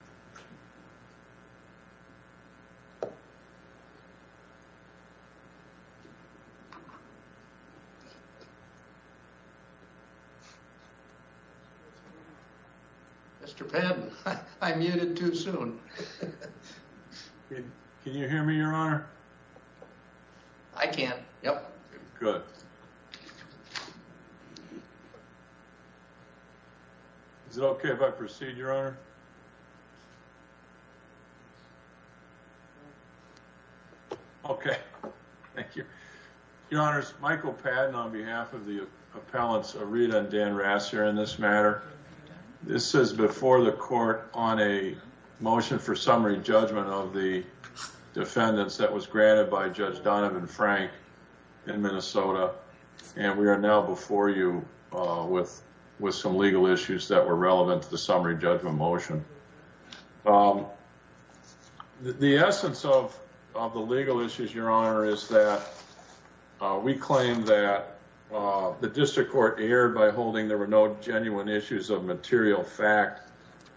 and John Sanner v. John Sanner Mr. Penn, I muted too soon. Can you hear me, your honor? I can, yep. Good. Is it okay if I proceed, your honor? Okay, thank you. Your honors, Michael Patton on behalf of the appellants Arita and Dan Rassier in this matter. This is before the court on a motion for summary judgment of the defendants that was granted by Judge Donovan Frank in Minnesota. And we are now before you with some legal issues that were relevant to the summary judgment motion. The essence of the legal issues, your honor, is that we claim that the district court erred by holding there were no genuine issues of material fact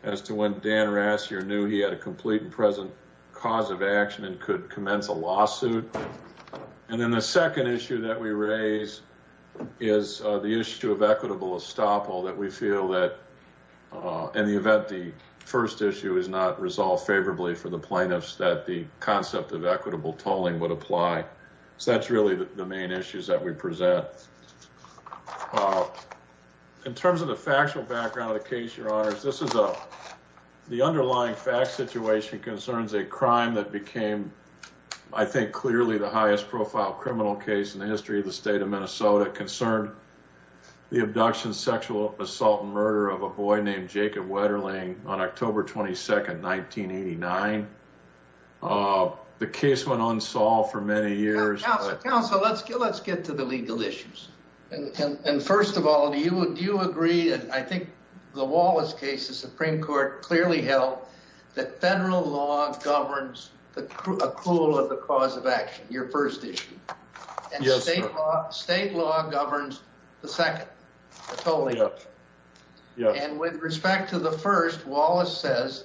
as to when Dan Rassier knew he had a complete and present cause of action and could commence a lawsuit. And then the second issue that we raise is the issue of equitable estoppel that we feel that in the event the first issue is not resolved favorably for the plaintiffs that the concept of equitable tolling would apply. So that's really the main issues that we present. In terms of the factual background of the case, your honors, this is the underlying fact situation concerns a crime that became, I think, clearly the highest profile criminal case in the history of the state of Minnesota concerned the abduction, sexual assault and murder of a boy named Jacob Wetterling on October 22nd, 1989. The case went unsolved for many years. Counselor, let's get to the legal issues. And first of all, do you agree? And I think the Wallace case, the Supreme Court clearly held that federal law governs the accrual of the cause of action. Your first issue. State law governs the second totally. And with respect to the first, Wallace says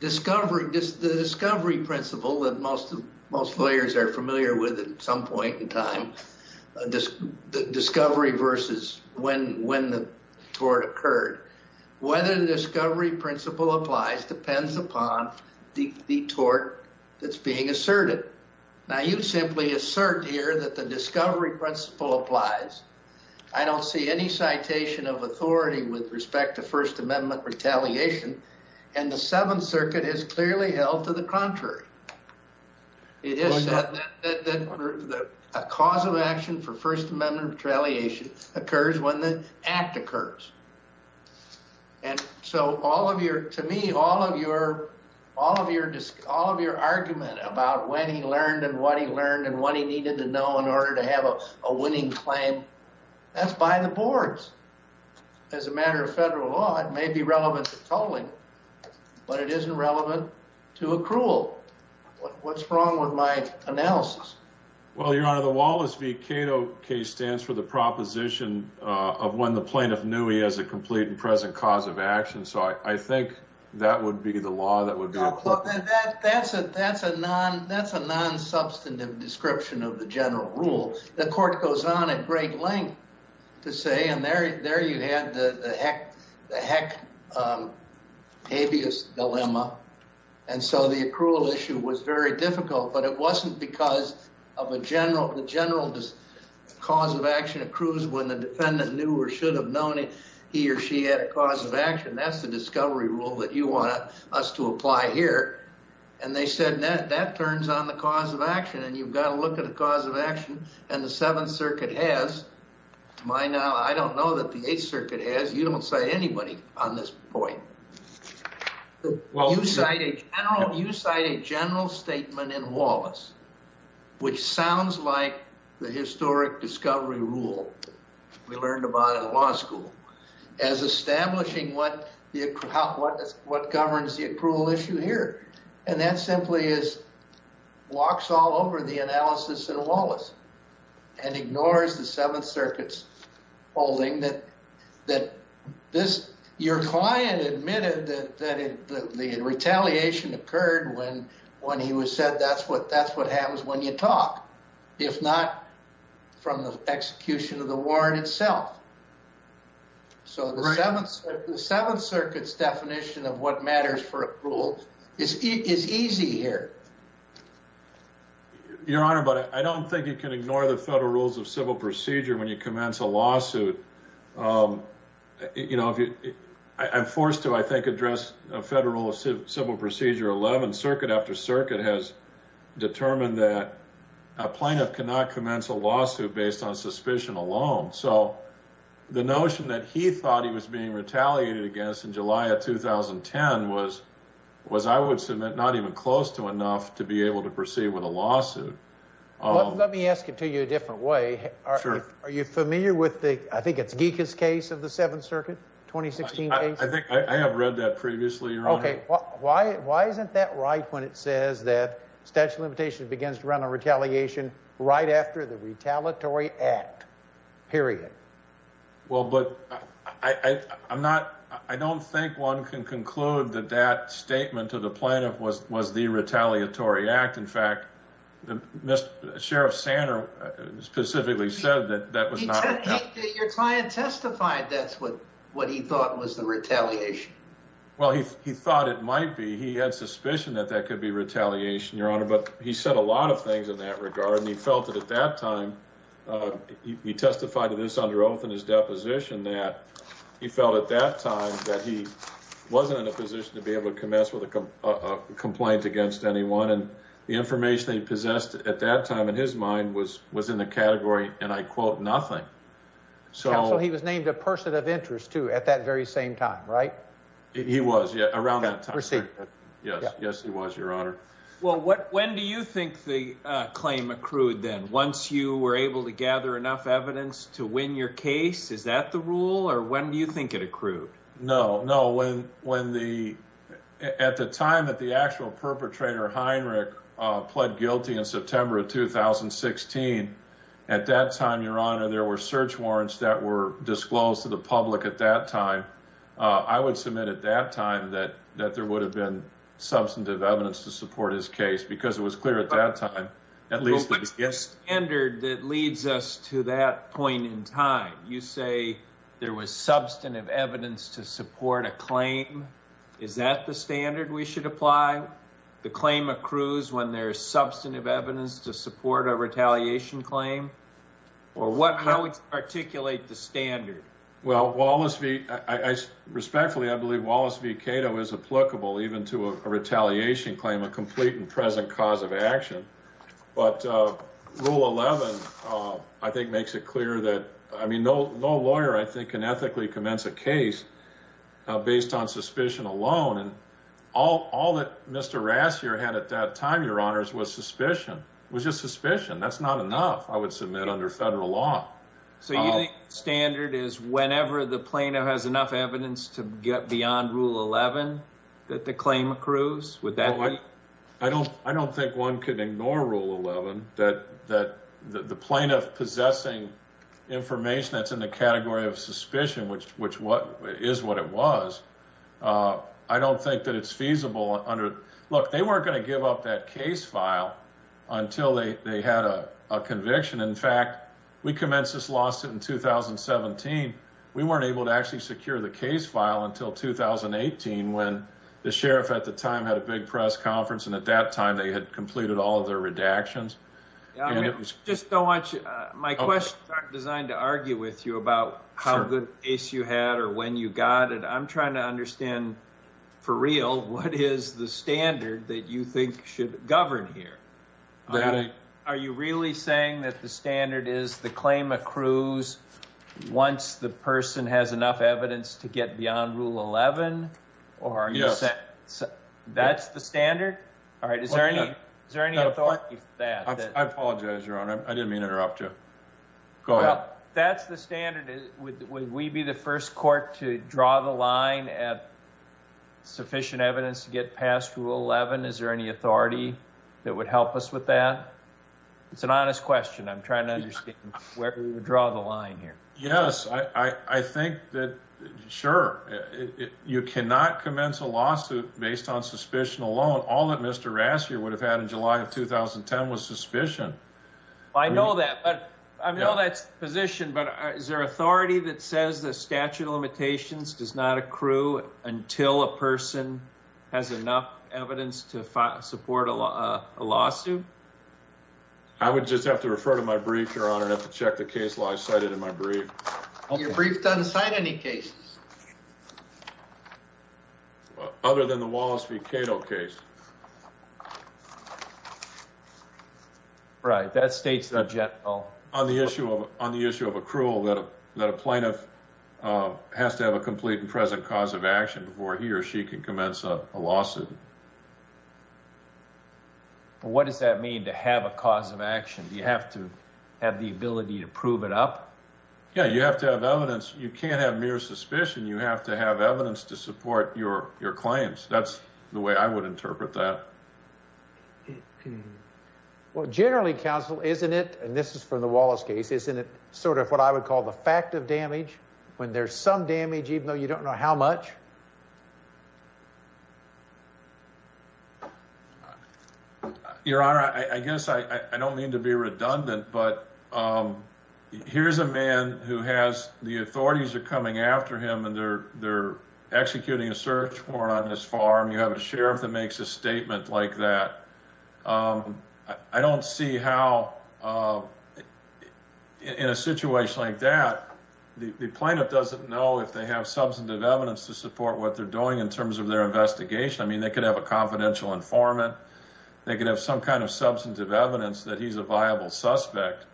discovery, the discovery principle that most lawyers are familiar with at some point in time, discovery versus when the tort occurred. Whether the discovery principle applies depends upon the tort that's being asserted. Now, you simply assert here that the discovery principle applies. I don't see any citation of authority with respect to First Amendment retaliation. And the Seventh Circuit has clearly held to the contrary. It is said that a cause of action for First Amendment retaliation occurs when the act occurs. And so all of your to me, all of your all of your all of your argument about when he learned and what he learned and what he needed to know in order to have a winning claim. That's by the boards. As a matter of federal law, it may be relevant to tolling, but it isn't relevant to accrual. What's wrong with my analysis? Well, you're out of the Wallace V. Cato case stands for the proposition of when the plaintiff knew he has a complete and present cause of action. So I think that would be the law. That would be that. That's a that's a non that's a non substantive description of the general rule. The court goes on at great length to say, and there there you have the heck, the heck habeas dilemma. And so the accrual issue was very difficult, but it wasn't because of a general. The general cause of action accrues when the defendant knew or should have known it. He or she had a cause of action. That's the discovery rule that you want us to apply here. And they said that that turns on the cause of action. And you've got to look at the cause of action. And the Seventh Circuit has my now. I don't know that the Eighth Circuit has. You don't say anybody on this point. Well, you cite a general. You cite a general statement in Wallace, which sounds like the historic discovery rule. We learned about in law school as establishing what the account was, what governs the accrual issue here. And that simply is walks all over the analysis in Wallace. And ignores the Seventh Circuit's holding that that this your client admitted that the retaliation occurred when when he was said, that's what that's what happens when you talk. If not from the execution of the warrant itself. So the Seventh Circuit's definition of what matters for a rule is easy here. Your Honor, but I don't think you can ignore the federal rules of civil procedure when you commence a lawsuit. You know, I'm forced to, I think, address a federal civil procedure. Eleven circuit after circuit has determined that a plaintiff cannot commence a lawsuit based on suspicion alone. So the notion that he thought he was being retaliated against in July of 2010 was was I would submit not even close to enough to be able to proceed with a lawsuit. Let me ask it to you a different way. Are you familiar with the I think it's Geekus case of the Seventh Circuit 2016? I think I have read that previously. OK, why? Why isn't that right? When it says that statute of limitations begins to run a retaliation right after the retaliatory act. Period. Well, but I'm not I don't think one can conclude that that statement to the plaintiff was was the retaliatory act. In fact, Sheriff Sander specifically said that that was not your client testified. That's what what he thought was the retaliation. Well, he thought it might be. He had suspicion that that could be retaliation, Your Honor. But he said a lot of things in that regard. And he felt that at that time he testified to this under oath in his deposition that he felt at that time that he wasn't in a position to be able to commence with a complaint against anyone. And the information they possessed at that time in his mind was was in the category. And I quote, nothing. So he was named a person of interest, too, at that very same time. Right. He was around that time. Yes. Yes, he was, Your Honor. Well, what when do you think the claim accrued then once you were able to gather enough evidence to win your case? Is that the rule? Or when do you think it accrued? No, no. When when the at the time that the actual perpetrator, Heinrich, pled guilty in September of 2016. At that time, Your Honor, there were search warrants that were disclosed to the public at that time. I would submit at that time that that there would have been substantive evidence to support his case because it was clear at that time. At least, yes. The standard that leads us to that point in time, you say there was substantive evidence to support a claim. Is that the standard we should apply? The claim accrues when there is substantive evidence to support a retaliation claim or what? How would you articulate the standard? Well, Wallace v. I respectfully, I believe Wallace v. Cato is applicable even to a retaliation claim, a complete and present cause of action. But Rule 11, I think, makes it clear that, I mean, no lawyer, I think, can ethically commence a case based on suspicion alone. And all that Mr. Rassier had at that time, Your Honors, was suspicion, was just suspicion. That's not enough, I would submit under federal law. So you think standard is whenever the plaintiff has enough evidence to get beyond Rule 11 that the claim accrues? I don't think one could ignore Rule 11, that the plaintiff possessing information that's in the category of suspicion, which is what it was, I don't think that it's feasible under, look, they weren't going to give up that case file until they had a conviction. In fact, we commenced this lawsuit in 2017. We weren't able to actually secure the case file until 2018 when the sheriff at the time had a big press conference, and at that time they had completed all of their redactions. Just don't want you, my questions aren't designed to argue with you about how good a case you had or when you got it. I'm trying to understand for real what is the standard that you think should govern here? Are you really saying that the standard is the claim accrues once the person has enough evidence to get beyond Rule 11? Yes. That's the standard? All right. Is there any authority for that? I apologize, Your Honor. I didn't mean to interrupt you. Go ahead. That's the standard. Would we be the first court to draw the line at sufficient evidence to get past Rule 11? Is there any authority that would help us with that? It's an honest question. I'm trying to understand where we would draw the line here. Yes. I think that, sure, you cannot commence a lawsuit based on suspicion alone. All that Mr. Rassier would have had in July of 2010 was suspicion. I know that. I know that's the position, but is there authority that says the statute of limitations does not accrue until a person has enough evidence to support a lawsuit? I would just have to refer to my brief, Your Honor, and have to check the case law I cited in my brief. Your brief doesn't cite any cases. Other than the Wallace v. Cato case. Right. That states the general. On the issue of accrual, that a plaintiff has to have a complete and present cause of action before he or she can commence a lawsuit. What does that mean, to have a cause of action? Do you have to have the ability to prove it up? Yes. You have to have evidence. You can't have mere suspicion. You have to have evidence to support your claims. That's the way I would interpret that. Well, generally, counsel, isn't it, and this is for the Wallace case, isn't it sort of what I would call the fact of damage when there's some damage, even though you don't know how much? Your Honor, I guess I don't mean to be redundant, but here's a man who has, the authorities are coming after him and they're executing a search warrant on his farm. You have a sheriff that makes a statement like that. I don't see how in a situation like that, the plaintiff doesn't know if they have substantive evidence to support what they're doing in terms of their investigation. I mean, they could have a confidential informant. They could have some kind of substantive evidence that he's a viable suspect.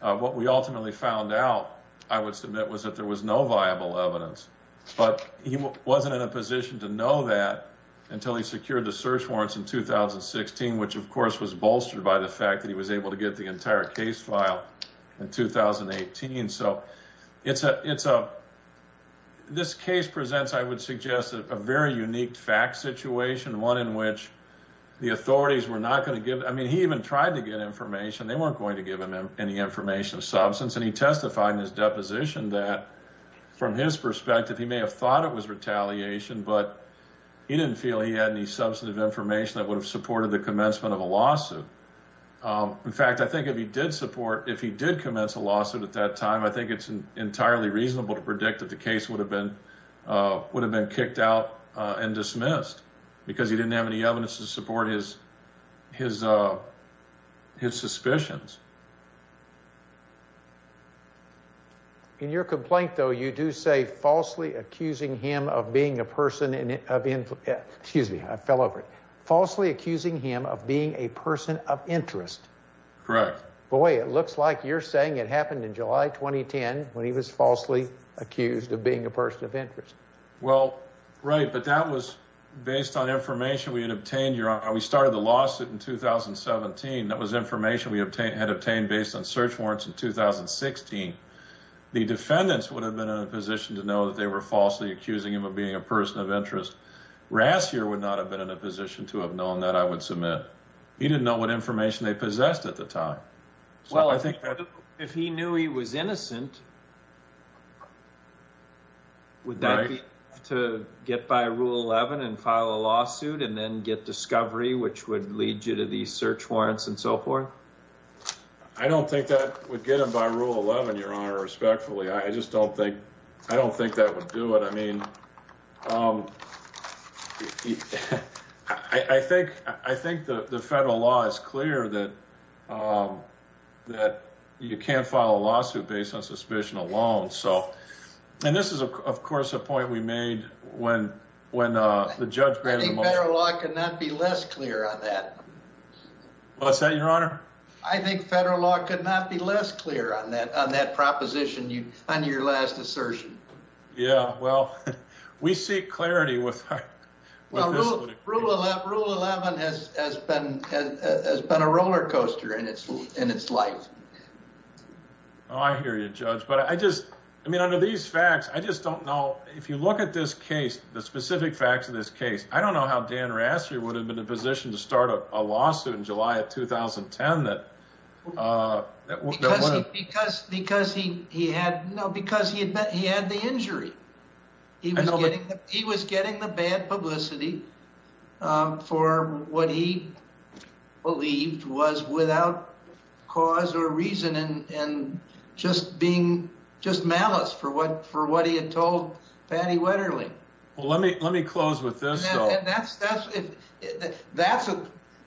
What we ultimately found out, I would submit, was that there was no viable evidence, but he wasn't in a position to know that until he secured the search warrants in 2016, which of course was bolstered by the fact that he was able to get the entire case file in 2018. This case presents, I would suggest, a very unique fact situation, one in which the authorities were not going to give, I mean, he even tried to get information. They weren't going to give him any information of substance, and he testified in his deposition that from his perspective, he may have thought it was retaliation, but he didn't feel he had any substantive information that would have supported the commencement of a lawsuit. In fact, I think if he did support, if he did commence a lawsuit at that time, I think it's entirely reasonable to predict that the case would have been kicked out and dismissed because he didn't have any evidence to support his suspicions. In your complaint, though, you do say falsely accusing him of being a person of interest. Correct. Boy, it looks like you're saying it happened in July 2010 when he was falsely accused of being a person of interest. Well, right, but that was based on information we had obtained. We started the lawsuit in 2017. That was information we had obtained based on search warrants in 2016. The defendants would have been in a position to know that they were falsely accusing him of being a person of interest. Rassier would not have been in a position to have known that, I would submit. He didn't know what information they possessed at the time. If he knew he was innocent, would that be to get by Rule 11 and file a lawsuit and then get discovery, which would lead you to these search warrants and so forth? I don't think that would get him by Rule 11, Your Honor, respectfully. I just don't think, I don't think that would do it. I mean, I think the federal law is clear that you can't file a lawsuit based on suspicion alone. And this is, of course, a point we made when the judge granted the motion. I think federal law could not be less clear on that. What's that, Your Honor? I think federal law could not be less clear on that proposition, on your last assertion. Yeah, well, we seek clarity with this litigation. Well, Rule 11 has been a roller coaster in its life. Oh, I hear you, Judge. But I just, I mean, under these facts, I just don't know. If you look at this case, the specific facts of this case, I don't know how Dan Rassier would have been in a position to start a lawsuit in July of 2010 that... Because he had the injury. He was getting the bad publicity for what he believed was without cause or reason and just being, just malice for what he had told Patty Wetterling. Well, let me close with this, though.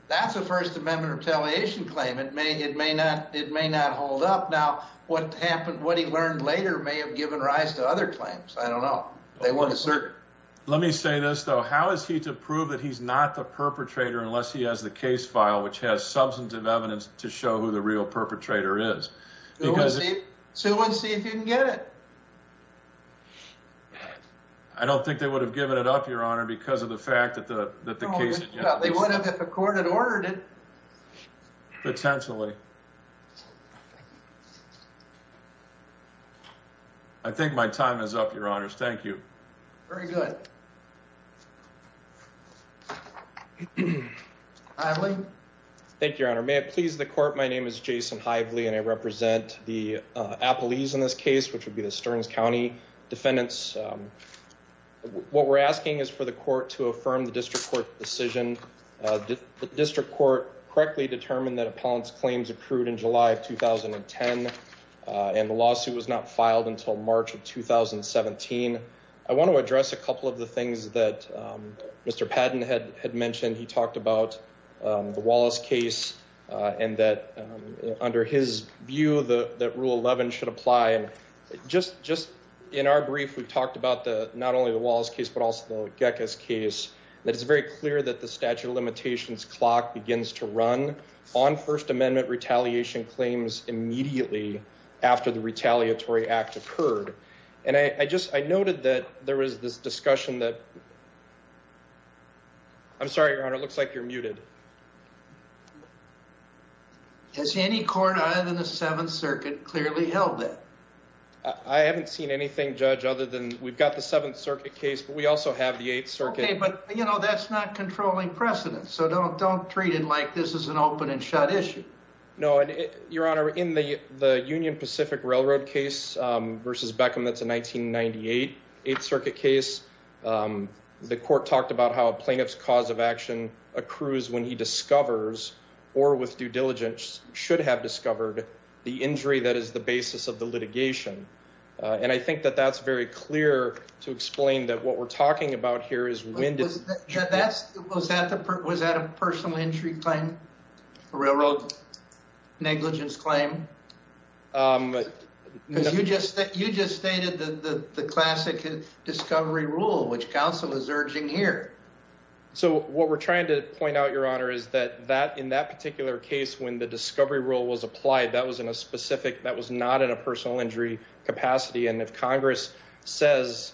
That's a First Amendment retaliation claim. It may not hold up. Now, what happened, what he learned later may have given rise to other claims. I don't know. Let me say this, though. How is he to prove that he's not the perpetrator unless he has the case file, which has substantive evidence to show who the real perpetrator is? Sue would see if you can get it. I don't think they would have given it up, Your Honor, because of the fact that the case... They would have if the court had ordered it. Potentially. I think my time is up, Your Honors. Thank you. Very good. Hively. Thank you, Your Honor. May it please the court. My name is Jason Hively, and I represent the appellees in this case, which would be the Stearns County defendants. What we're asking is for the court to affirm the district court decision. The district court correctly determined that Apollon's claims accrued in July of 2010, and the lawsuit was not filed until March of 2017. I want to address a couple of the things that Mr. Padden had mentioned. He talked about the Wallace case and that under his view, that Rule 11 should apply. Just in our brief, we talked about not only the Wallace case, but also the Gekas case. It's very clear that the statute of limitations clock begins to run on First Amendment retaliation claims immediately after the retaliatory act occurred. I noted that there was this discussion that... I'm sorry, Your Honor, it looks like you're muted. Has any court other than the Seventh Circuit clearly held that? I haven't seen anything, Judge, other than we've got the Seventh Circuit case, but we also have the Eighth Circuit. Okay, but that's not controlling precedent, so don't treat it like this is an open and shut issue. No, Your Honor, in the Union Pacific Railroad case versus Beckham, that's a 1998 Eighth Circuit case. The court talked about how a plaintiff's cause of action accrues when he discovers, or with due diligence, should have discovered the injury that is the basis of the litigation. And I think that that's very clear to explain that what we're talking about here is... Was that a personal injury claim? A railroad negligence claim? Because you just stated the classic discovery rule, which counsel is urging here. So what we're trying to point out, Your Honor, is that in that particular case, when the discovery rule was applied, that was not in a personal injury capacity. And if Congress says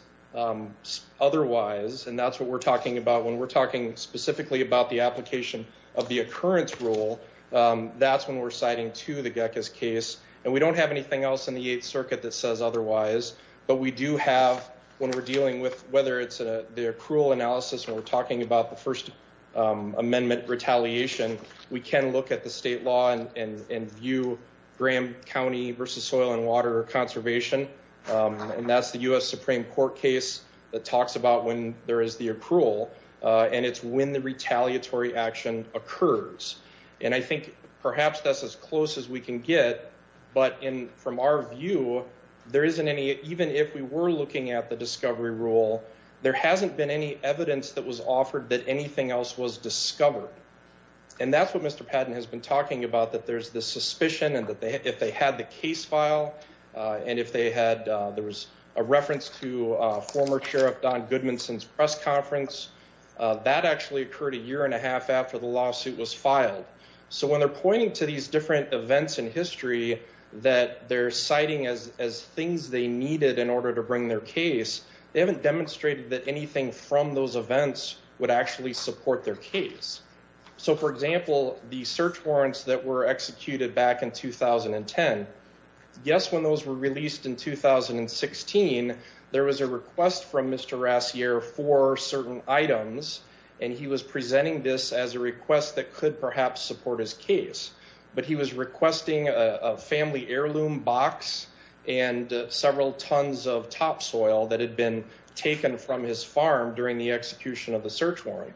otherwise, and that's what we're talking about when we're talking specifically about the application of the occurrence rule, that's when we're citing to the Geckas case. And we don't have anything else in the Eighth Circuit that says otherwise. But we do have, when we're dealing with whether it's the accrual analysis, when we're talking about the First Amendment retaliation, we can look at the state law and view Graham County versus Soil and Water Conservation. And that's the U.S. Supreme Court case that talks about when there is the accrual, and it's when the retaliatory action occurs. And I think perhaps that's as close as we can get, but from our view, there isn't any... Even if we were looking at the discovery rule, there hasn't been any evidence that was offered that anything else was discovered. And that's what Mr. Patton has been talking about, that there's this suspicion, and if they had the case file, and if they had... I was just looking at the case file from the Sheriff Don Goodmanson's press conference. That actually occurred a year and a half after the lawsuit was filed. So when they're pointing to these different events in history that they're citing as things they needed in order to bring their case, they haven't demonstrated that anything from those events would actually support their case. So for example, the search warrants that were executed back in 2010. Yes, when those were released in 2016, there was a request from Mr. Rassier for certain items, and he was presenting this as a request that could perhaps support his case. But he was requesting a family heirloom box and several tons of topsoil that had been taken from his farm during the execution of the search warrant.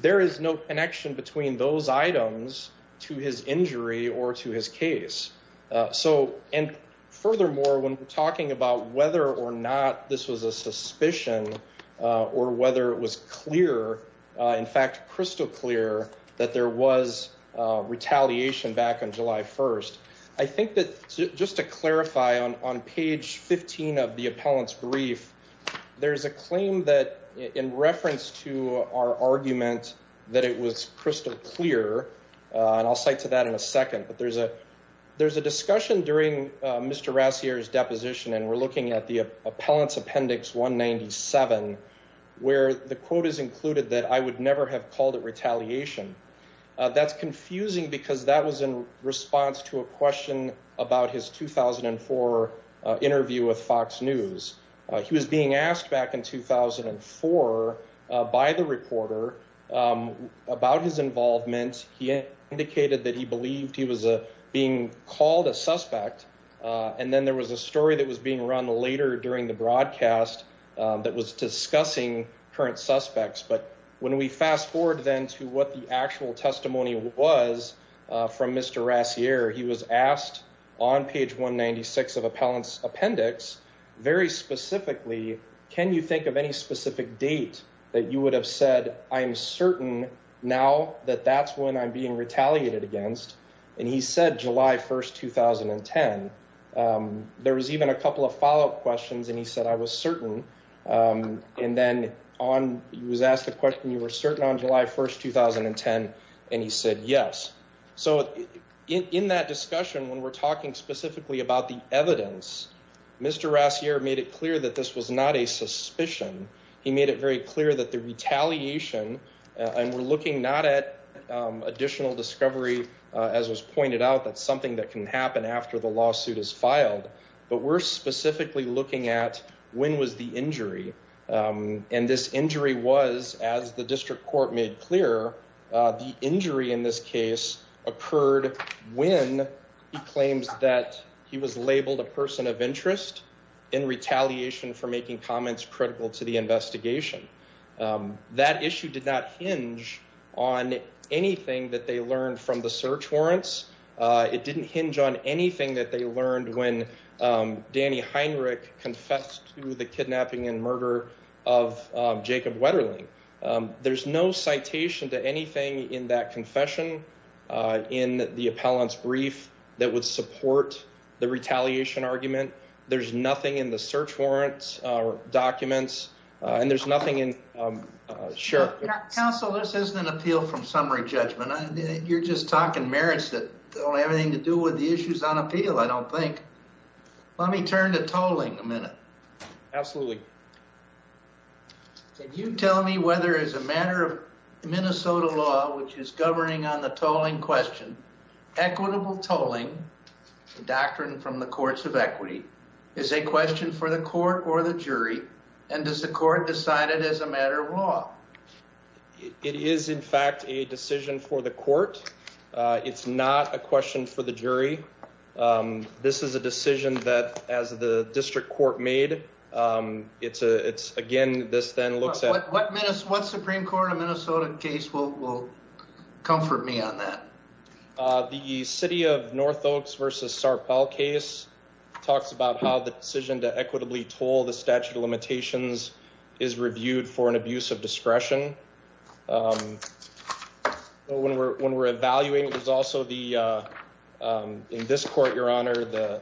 There is no connection between those items to his injury or to his case. So and furthermore, when we're talking about whether or not this was a suspicion or whether it was clear, in fact, crystal clear, that there was retaliation back on July 1st. I think that just to clarify on page 15 of the appellant's brief, there's a claim that in reference to our argument that it was crystal clear, and I'll cite to that in a second. But there's a there's a discussion during Mr. Rassier's deposition, and we're looking at the appellant's appendix 197, where the quote is included that I would never have called it retaliation. That's confusing because that was in response to a question about his 2004 interview with Fox News. He was being asked back in 2004 by the reporter about his involvement. He indicated that he believed he was being called a suspect. And then there was a story that was being run later during the broadcast that was discussing current suspects. But when we fast forward then to what the actual testimony was from Mr. Rassier, he was asked on page 196 of appellant's appendix, very specifically, can you think of any specific date that you would have said I am certain now that that's when I'm being retaliated against? And he said July 1st, 2010. There was even a couple of follow up questions, and he said, I was certain. And then on he was asked the question, you were certain on July 1st, 2010, and he said yes. So in that discussion, when we're talking specifically about the evidence, Mr. Rassier made it clear that this was not a suspicion. He made it very clear that the retaliation, and we're looking not at additional discovery, as was pointed out, that's something that can happen after the lawsuit is filed. But we're specifically looking at when was the injury. And this injury was, as the district court made clear, the injury in this case occurred when he claims that he was labeled a person of interest in retaliation for making comments critical to the investigation. That issue did not hinge on anything that they learned from the search warrants. It didn't hinge on anything that they learned when Danny Heinrich confessed to the kidnapping and murder of Jacob Wetterling. There's no citation to anything in that confession in the appellant's brief that would support the retaliation argument. There's nothing in the search warrants documents, and there's nothing in. Sure. Counsel, this isn't an appeal from summary judgment. You're just talking merits that don't have anything to do with the issues on appeal, I don't think. Let me turn to tolling a minute. Absolutely. Can you tell me whether as a matter of Minnesota law, which is governing on the tolling question, equitable tolling, the doctrine from the courts of equity, is a question for the court or the jury? And does the court decide it as a matter of law? It is, in fact, a decision for the court. It's not a question for the jury. This is a decision that as the district court made, it's a it's again, this then looks at what minutes, what Supreme Court of Minnesota case will will comfort me on that. The city of North Oaks versus Sarpel case talks about how the decision to equitably toll the statute of limitations is reviewed for an abuse of discretion. When we're when we're evaluating is also the in this court, your honor, the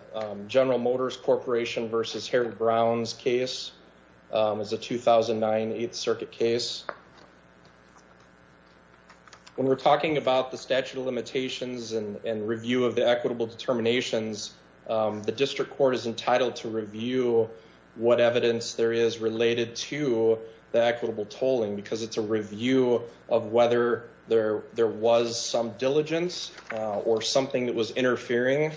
General Motors Corporation versus Harry Brown's case is a 2009 8th Circuit case. When we're talking about the statute of limitations and review of the equitable determinations, the district court is entitled to review what evidence there is related to the equitable tolling because it's a review of whether there there was some diligence or something that was interfering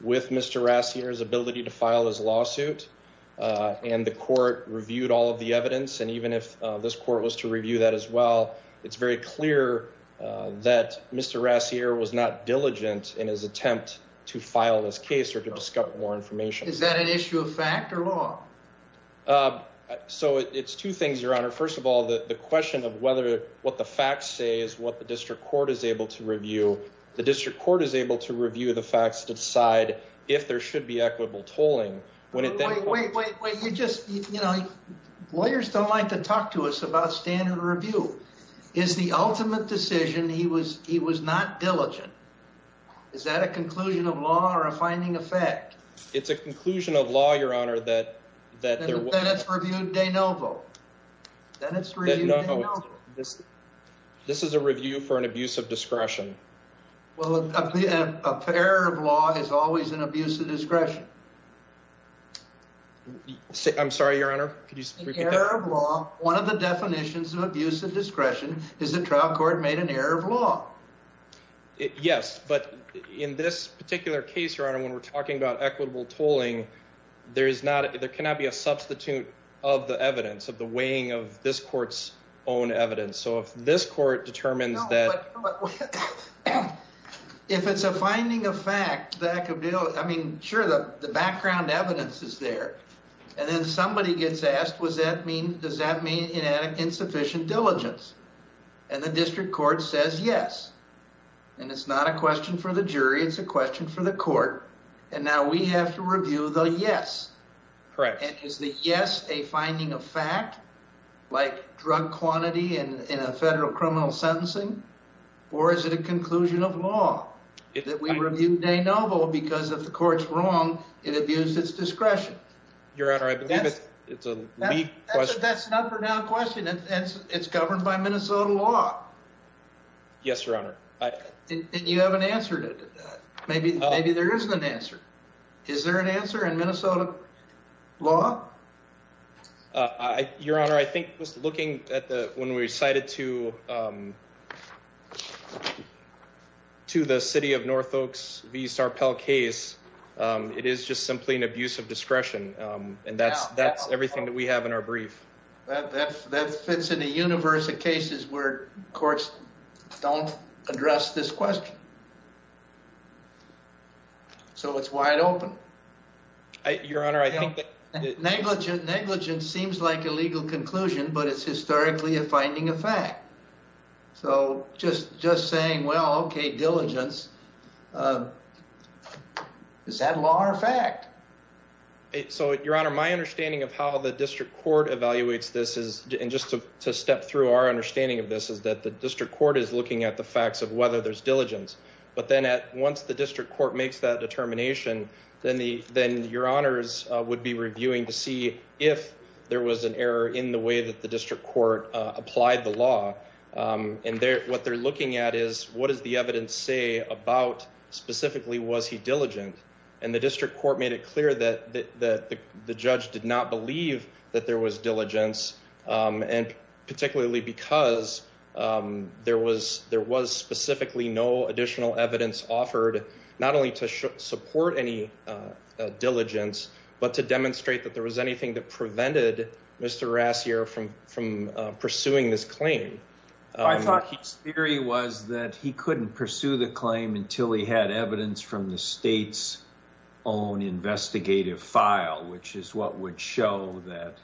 with Mr. Rassier's ability to file his lawsuit. And the court reviewed all of the evidence. And even if this court was to review that as well, it's very clear that Mr. Rassier was not diligent in his attempt to file this case or to discuss more information. Is that an issue of fact or law? So it's two things, your honor. First of all, the question of whether what the facts say is what the district court is able to review. The district court is able to review the facts to decide if there should be equitable tolling. Wait, wait, wait, wait. You just lawyers don't like to talk to us about standard review is the ultimate decision. He was he was not diligent. Is that a conclusion of law or a finding effect? It's a conclusion of law, your honor, that that's reviewed. They know that it's this. This is a review for an abuse of discretion. Well, a pair of law is always an abuse of discretion. I'm sorry, your honor. One of the definitions of abuse of discretion is a trial court made an error of law. Yes. But in this particular case, your honor, when we're talking about equitable tolling, there is not. There cannot be a substitute of the evidence of the weighing of this court's own evidence. So if this court determines that. If it's a finding of fact, that could be. I mean, sure. The background evidence is there. And then somebody gets asked, was that mean? Does that mean insufficient diligence? And the district court says yes. And it's not a question for the jury. It's a question for the court. And now we have to review the yes. Correct. Is the yes a finding of fact like drug quantity in a federal criminal sentencing? Or is it a conclusion of law that we reviewed a novel because of the court's wrong? It abused its discretion. Your honor, I believe it's a. That's not a question. It's governed by Minnesota law. Yes, your honor. And you haven't answered it. Maybe there isn't an answer. Is there an answer in Minnesota law? Your honor, I think just looking at when we cited to the city of North Oaks v. Sarpel case, it is just simply an abuse of discretion. And that's everything that we have in our brief. That fits in the universe of cases where courts don't address this question. So it's wide open. Your honor, I think. Negligence seems like a legal conclusion, but it's historically a finding of fact. So just saying, well, OK, diligence. Is that law or fact? So, your honor, my understanding of how the district court evaluates this is just to step through our understanding of this is that the district court is looking at the facts of whether there's diligence. But then once the district court makes that determination, then your honors would be reviewing to see if there was an error in the way that the district court applied the law. And what they're looking at is what does the evidence say about specifically was he diligent? And the district court made it clear that that the judge did not believe that there was diligence. And particularly because there was there was specifically no additional evidence offered, not only to support any diligence, but to demonstrate that there was anything that prevented Mr. Rassier from from pursuing this claim. I thought his theory was that he couldn't pursue the claim until he had evidence from the state's own investigative file, which is what would show that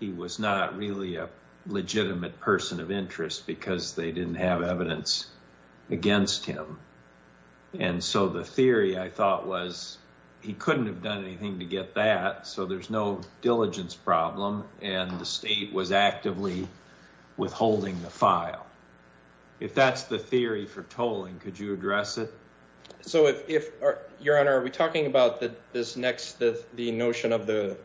he was not really a legitimate person of interest because they didn't have evidence against him. And so the theory I thought was he couldn't have done anything to get that. So there's no diligence problem. And the state was actively withholding the file. If that's the theory for tolling, could you address it? So if, your honor, are we talking about this next, the notion of the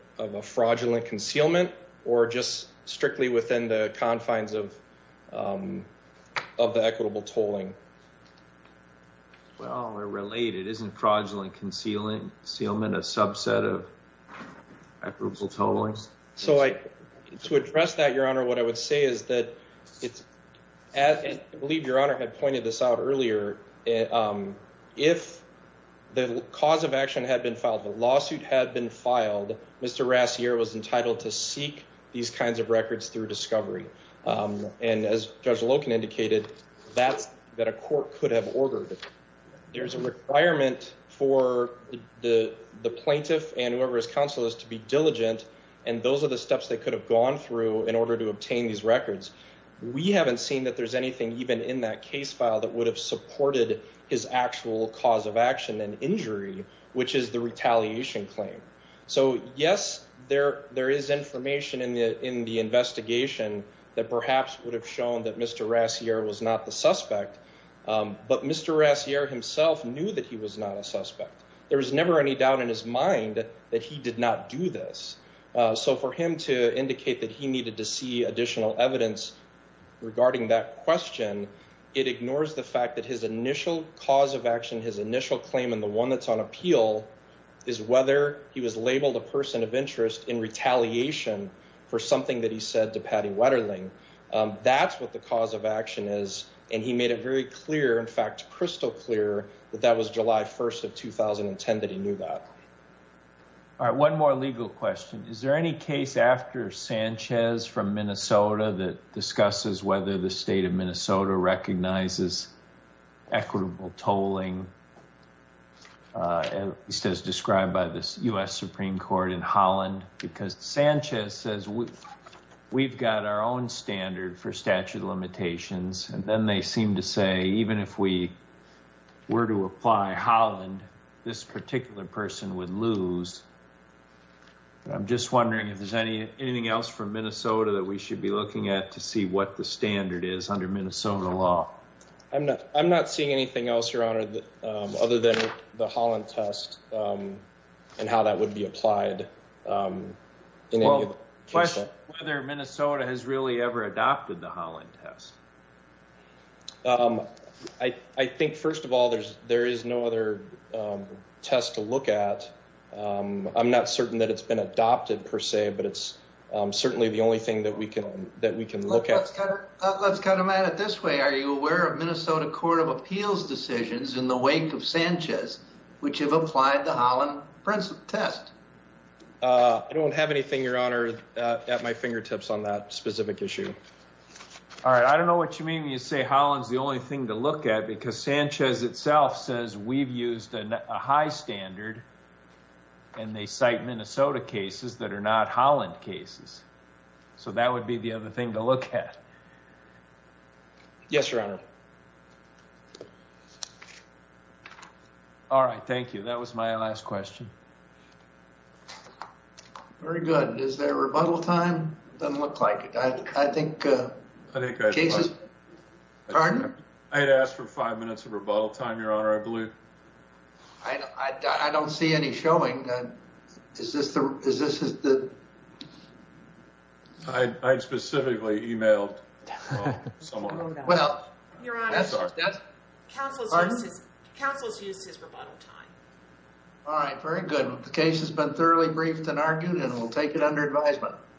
fraudulent concealment or just strictly within the confines of the equitable tolling? Well, they're related. Isn't fraudulent concealment a subset of equitable tolling? So to address that, your honor, what I would say is that it's as I believe your honor had pointed this out earlier, if the cause of action had been filed, the lawsuit had been filed, Mr. Rassier was entitled to seek these kinds of records through discovery. And as Judge Loken indicated, that's that a court could have ordered. There's a requirement for the plaintiff and whoever is counsel is to be able to obtain these records. And those are the steps they could have gone through in order to obtain these records. We haven't seen that there's anything even in that case file that would have supported his actual cause of action and injury, which is the retaliation claim. So, yes, there is information in the investigation that perhaps would have shown that Mr. Rassier was not the suspect. But Mr. Rassier himself knew that he was not a suspect. There was never any doubt in his mind that he did not do this. So for him to indicate that he needed to see additional evidence regarding that question, it ignores the fact that his initial cause of action, his initial claim, and the one that's on appeal is whether he was labeled a person of interest in retaliation for something that he said to Patty Wetterling. That's what the cause of action is. And he made it very clear, in fact, crystal clear, that that was July 1st of 2010 that he knew that. All right. One more legal question. Is there any case after Sanchez from Minnesota that discusses whether the state of Minnesota recognizes equitable tolling, at least as described by the U.S. Supreme Court in Holland? Because Sanchez says we've got our own standard for statute of limitations. And then they seem to say even if we were to apply Holland, this particular person would lose. I'm just wondering if there's anything else from Minnesota that we should be looking at to see what the standard is under Minnesota law. I'm not seeing anything else, Your Honor, other than the Holland test and how that would be applied. Well, the question is whether Minnesota has really ever adopted the Holland test. I think, first of all, there is no other test to look at. I'm not certain that it's been adopted per se, but it's certainly the only thing that we can look at. Let's cut him at it this way. Are you aware of Minnesota Court of Appeals decisions in the wake of Sanchez which have applied the Holland test? I don't have anything, Your Honor, at my fingertips on that specific issue. All right. I don't know what you mean when you say Holland's the only thing to look at because Sanchez itself says we've used a high standard and they cite Minnesota cases that are not Holland cases. So that would be the other thing to look at. Yes, Your Honor. All right. Thank you. That was my last question. Very good. Is there rebuttal time? Doesn't look like it. I think... Pardon? I had asked for five minutes of rebuttal time, Your Honor, I believe. I don't see any showing. Is this the... I specifically emailed someone. Well, that's all right. Counsel has used his rebuttal time. All right. Very good. The case has been thoroughly briefed and argued and we'll take it under advisement.